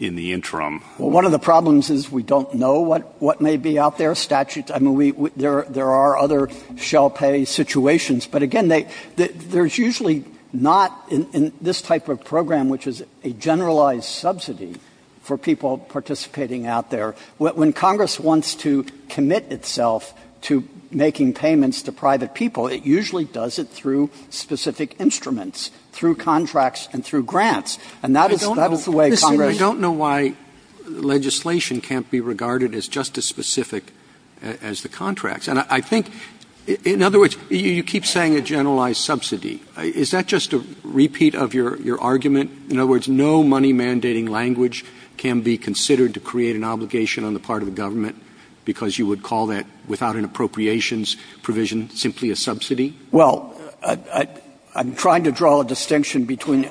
in the interim? Well, one of the problems is we don't know what may be out there. There are other shell pay situations. But again, there's usually not in this type of program, which is a generalized subsidy for people participating out there. When Congress wants to commit itself to making payments to private people, it usually does it through specific instruments, through contracts and through grants. And that is the way Congress does it. And I think, in other words, you keep saying a generalized subsidy. Is that just a repeat of your argument? In other words, no money-mandating language can be considered to create an obligation on the part of the government because you would call that, without an appropriations provision, simply a subsidy? Well, I'm trying to draw a distinction between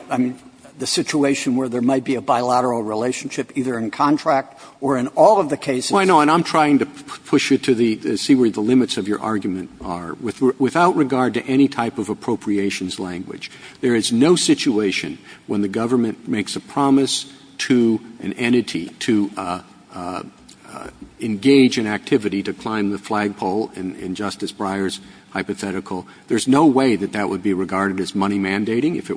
the situation where there might be a bilateral relationship either in contract or in all of the cases. Well, I know. And I'm trying to push you to see where the limits of your argument are. Without regard to any type of appropriations language, there is no situation when the government makes a promise to an entity to engage in activity to climb the flagpole in Justice Breyer's hypothetical. There's no way that that would be regarded as money-mandating if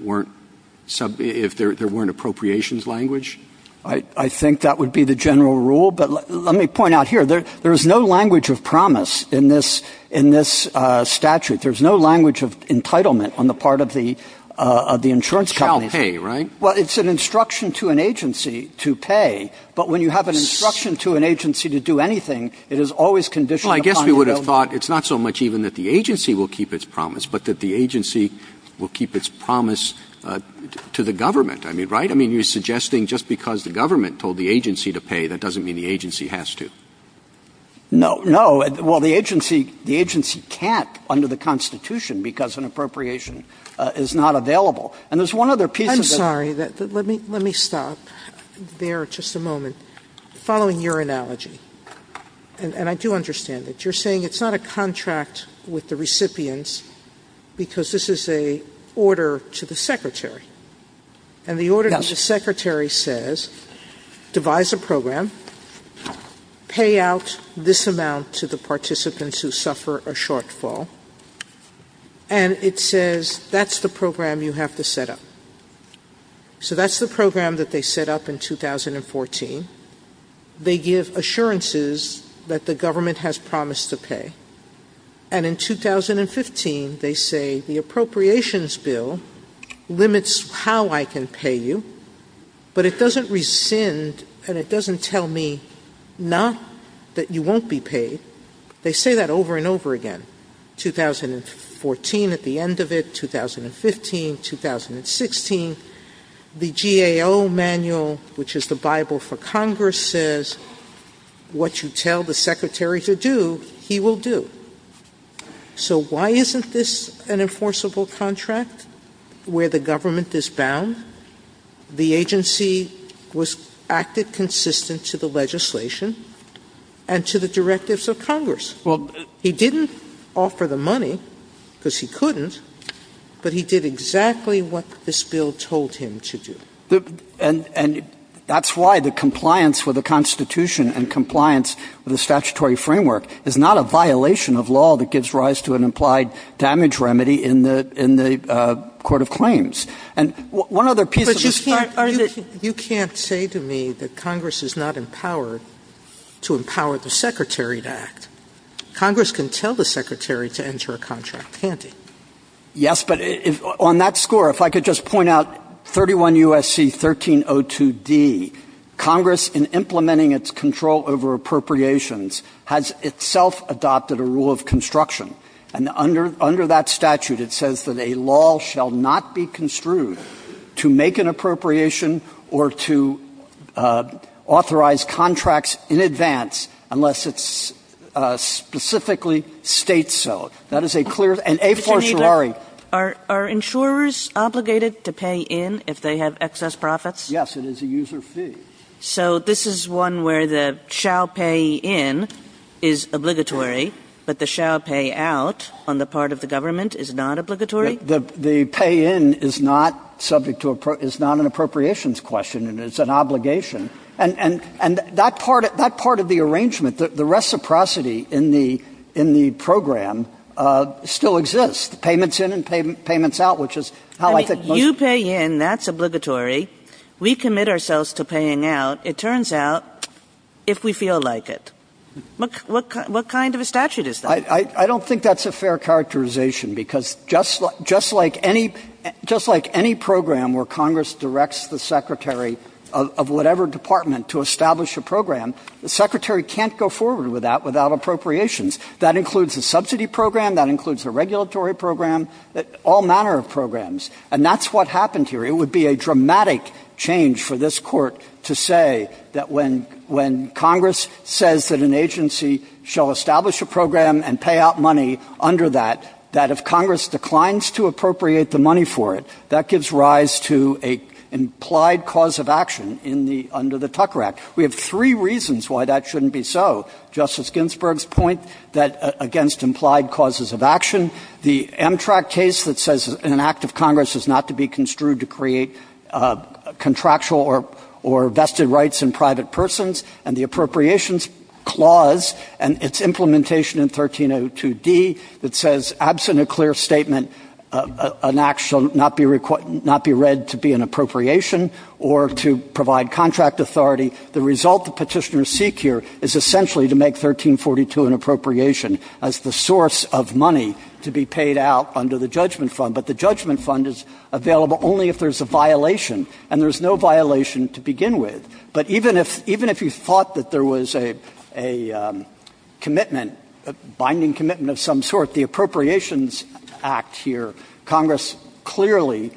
there weren't appropriations language. I think that would be the general rule. But let me point out here, there is no language of promise in this statute. There's no language of entitlement on the part of the insurance companies. You shall pay, right? Well, it's an instruction to an agency to pay. But when you have an instruction to an agency to do anything, it is always conditioned upon your ability. Well, I guess we would have thought it's not so much even that the agency will keep its promise, but that the agency will keep its promise to the government. I mean, right? I mean, just because the government told the agency to pay, that doesn't mean the agency has to. No. No. Well, the agency can't under the Constitution because an appropriation is not available. And there's one other piece of it. I'm sorry. Let me stop there just a moment. Following your analogy, and I do understand it, you're saying it's not a contract with the recipients because this is an order to the Secretary. Yes. And the Secretary says, devise a program, pay out this amount to the participants who suffer a shortfall, and it says that's the program you have to set up. So that's the program that they set up in 2014. They give assurances that the government has promised to pay. And in 2015, they say the appropriations bill limits how I can pay you, but it doesn't rescind and it doesn't tell me not that you won't be paid. They say that over and over again, 2014 at the end of it, 2015, 2016. The GAO manual, which is the Bible for Congress, says what you tell the Secretary to do, he will do. So why isn't this an enforceable contract where the government is bound? The agency acted consistent to the legislation and to the directives of Congress. He didn't offer the money because he couldn't, but he did exactly what this bill told him to do. And that's why the compliance with the Constitution and compliance with the statutory framework is not a violation of law that gives rise to an implied damage remedy in the Court of Claims. And one other piece of this. But you can't say to me that Congress is not empowered to empower the Secretary to act. Congress can tell the Secretary to enter a contract, can't it? Yes, but on that score, if I could just point out 31 U.S.C. 1302D, Congress in implementing its control over appropriations has itself adopted a rule of construction. And under that statute, it says that a law shall not be construed to make an appropriation or to authorize contracts in advance unless it specifically states so. That is a clear and a fortiori. Mr. Kneedler, are insurers obligated to pay in if they have excess profits? Yes, it is a user fee. So this is one where the shall pay in is obligatory, but the shall pay out on the part of the government is not obligatory? The pay in is not subject to a – is not an appropriations question. It's an obligation. And that part of the arrangement, the reciprocity in the program still exists, payments in and payments out, which is how I think most – You pay in, that's obligatory. We commit ourselves to paying out, it turns out, if we feel like it. What kind of a statute is that? I don't think that's a fair characterization because just like any program where Congress directs the secretary of whatever department to establish a program, the secretary can't go forward with that without appropriations. That includes a subsidy program. That includes a regulatory program, all manner of programs. And that's what happened here. It would be a dramatic change for this Court to say that when Congress says that an agency shall establish a program and pay out money under that, that if Congress declines to appropriate the money for it, that gives rise to an implied cause of action in the – under the Tucker Act. We have three reasons why that shouldn't be so. Justice Ginsburg's point that against implied causes of action, the Amtrak case that says an act of Congress is not to be construed to create contractual or vested rights in private persons, and the Appropriations Clause and its implementation in 1302D that says, absent a clear statement, an act shall not be read to be an appropriation or to provide contract authority, the result the petitioners seek here is essentially to make 1342 an appropriation as the source of money to be paid out under the judgment fund. But the judgment fund is available only if there's a violation, and there's no violation to begin with. But even if – even if you thought that there was a commitment, a binding commitment of some sort, the Appropriations Act here, Congress clearly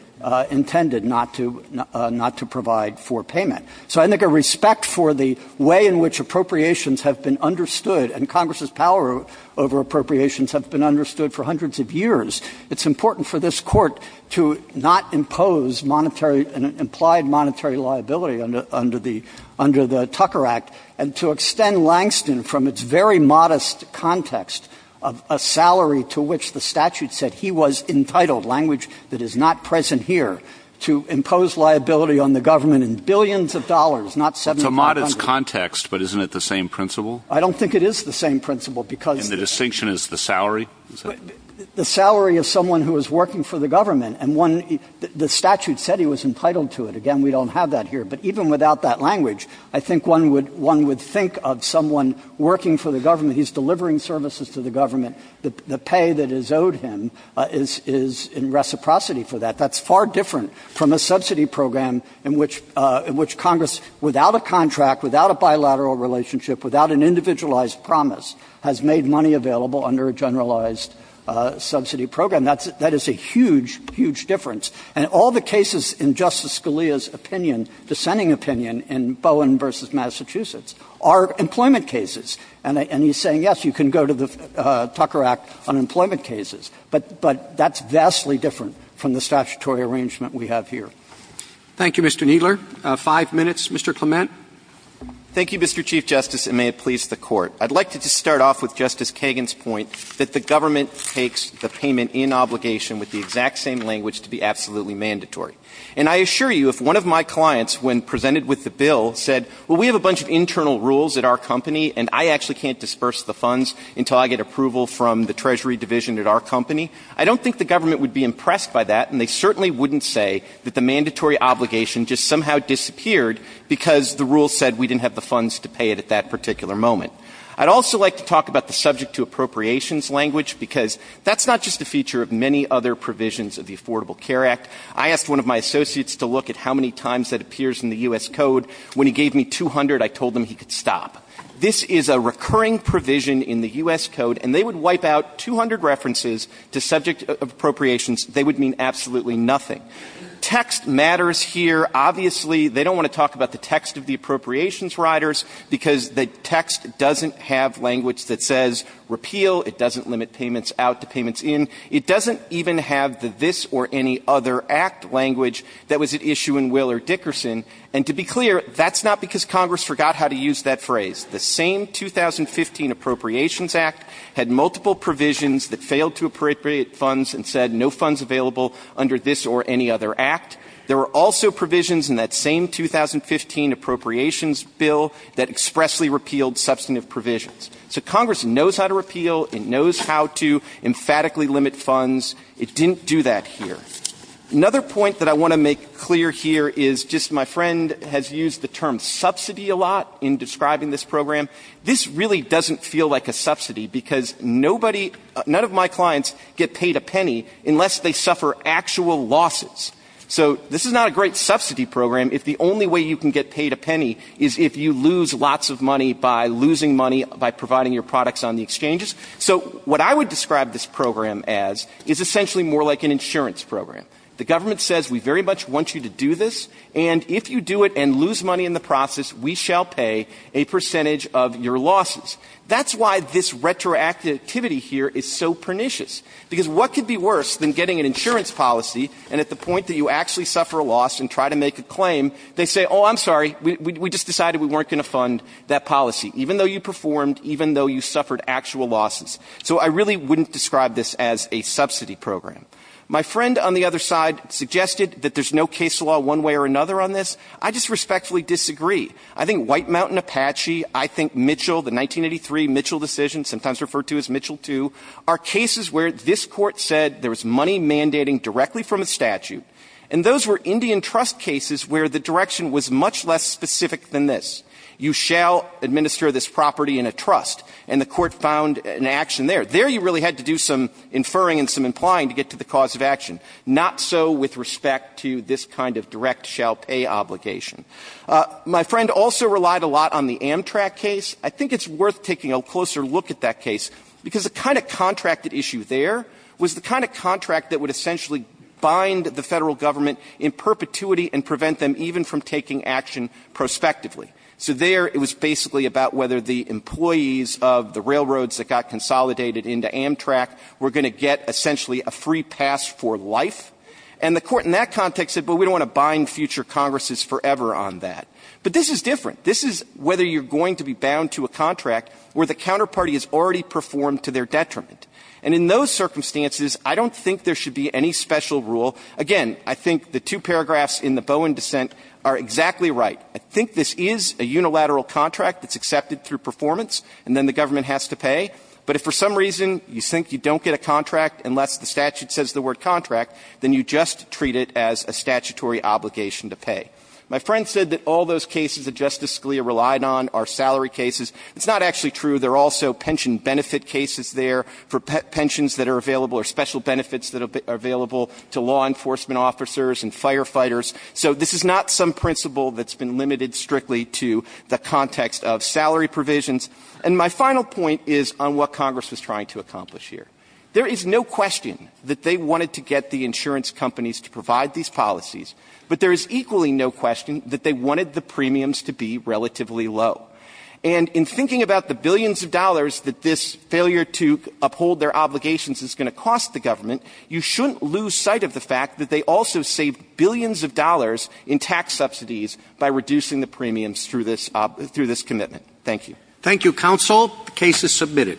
intended not to – not to provide for payment. So I think a respect for the way in which appropriations have been understood, and Congress's power over appropriations have been understood for hundreds of years, it's important for this Court to not impose monetary – implied monetary liability under the – under the Tucker Act, and to extend Langston from its very modest context of a salary to which the statute said he was entitled, language that is not present here, to impose liability on the government in billions of dollars, not $7,500. It's a modest context, but isn't it the same principle? I don't think it is the same principle, because the – And the distinction is the salary? The salary of someone who is working for the government, and one – the statute said he was entitled to it. Again, we don't have that here. But even without that language, I think one would – one would think of someone working for the government. He's delivering services to the government. The pay that is owed him is – is in reciprocity for that. That's far different from a subsidy program in which – in which Congress, without a contract, without a bilateral relationship, without an individualized promise, has made money available under a generalized subsidy program. That's – that is a huge, huge difference. And all the cases in Justice Scalia's opinion, dissenting opinion, in Bowen v. Massachusetts are employment cases. And he's saying, yes, you can go to the Tucker Act on employment cases. But that's vastly different from the statutory arrangement we have here. Thank you, Mr. Kneedler. Five minutes. Mr. Clement. Thank you, Mr. Chief Justice, and may it please the Court. I'd like to just start off with Justice Kagan's point that the government takes the payment in obligation with the exact same language to be absolutely mandatory. And I assure you, if one of my clients, when presented with the bill, said, well, we have a bunch of internal rules at our company, and I actually can't disperse the funds until I get approval from the Treasury division at our company, I don't think the government would be impressed by that, and they certainly wouldn't say that the mandatory obligation just somehow disappeared because the rule said we didn't have the funds to pay it at that particular moment. I'd also like to talk about the subject to appropriations language, because that's not just a feature of many other provisions of the Affordable Care Act. I asked one of my associates to look at how many times that appears in the U.S. Code. When he gave me 200, I told him he could stop. This is a recurring provision in the U.S. Code, and they would wipe out 200 references to subject appropriations. They would mean absolutely nothing. Text matters here. Obviously, they don't want to talk about the text of the appropriations riders, because the text doesn't have language that says repeal. It doesn't limit payments out to payments in. It doesn't even have the this or any other act language that was at issue in Will or Dickerson. And to be clear, that's not because Congress forgot how to use that phrase. The same 2015 Appropriations Act had multiple provisions that failed to appropriate funds and said no funds available under this or any other act. There were also provisions in that same 2015 Appropriations Bill that expressly repealed substantive provisions. So Congress knows how to repeal. It knows how to emphatically limit funds. It didn't do that here. Another point that I want to make clear here is just my friend has used the term subsidy a lot in describing this program. This really doesn't feel like a subsidy, because nobody, none of my clients get paid a penny unless they suffer actual losses. So this is not a great subsidy program if the only way you can get paid a penny is if you lose lots of money by losing money by providing your products on the exchanges. So what I would describe this program as is essentially more like an insurance program. The government says we very much want you to do this, and if you do it and lose money in the process, we shall pay a percentage of your losses. That's why this retroactivity here is so pernicious, because what could be worse than getting an insurance policy, and at the point that you actually suffer a loss and try to make a claim, they say, oh, I'm sorry, we just decided we weren't going to fund that policy, even though you performed, even though you suffered actual losses. So I really wouldn't describe this as a subsidy program. My friend on the other side suggested that there's no case law one way or another on this. I just respectfully disagree. I think White Mountain Apache, I think Mitchell, the 1983 Mitchell decision, sometimes referred to as Mitchell II, are cases where this Court said there was money mandating directly from a statute. And those were Indian trust cases where the direction was much less specific than this. You shall administer this property in a trust. And the Court found an action there. There you really had to do some inferring and some implying to get to the cause of action. Not so with respect to this kind of direct shall pay obligation. My friend also relied a lot on the Amtrak case. I think it's worth taking a closer look at that case, because the kind of contracted issue there was the kind of contract that would essentially bind the Federal Government in perpetuity and prevent them even from taking action prospectively. So there it was basically about whether the employees of the railroads that got consolidated into Amtrak were going to get essentially a free pass for life. And the Court in that context said, well, we don't want to bind future Congresses forever on that. But this is different. This is whether you're going to be bound to a contract where the counterparty has already performed to their detriment. And in those circumstances, I don't think there should be any special rule. Again, I think the two paragraphs in the Bowen dissent are exactly right. I think this is a unilateral contract that's accepted through performance, and then the government has to pay. But if for some reason you think you don't get a contract unless the statute says that all those cases that Justice Scalia relied on are salary cases, it's not actually true. There are also pension benefit cases there for pensions that are available or special benefits that are available to law enforcement officers and firefighters. So this is not some principle that's been limited strictly to the context of salary provisions. And my final point is on what Congress was trying to accomplish here. There is no question that they wanted to get the insurance companies to provide these policies. But there is equally no question that they wanted the premiums to be relatively low. And in thinking about the billions of dollars that this failure to uphold their obligations is going to cost the government, you shouldn't lose sight of the fact that they also saved billions of dollars in tax subsidies by reducing the premiums through this commitment. Thank you. Thank you, counsel. The case is submitted.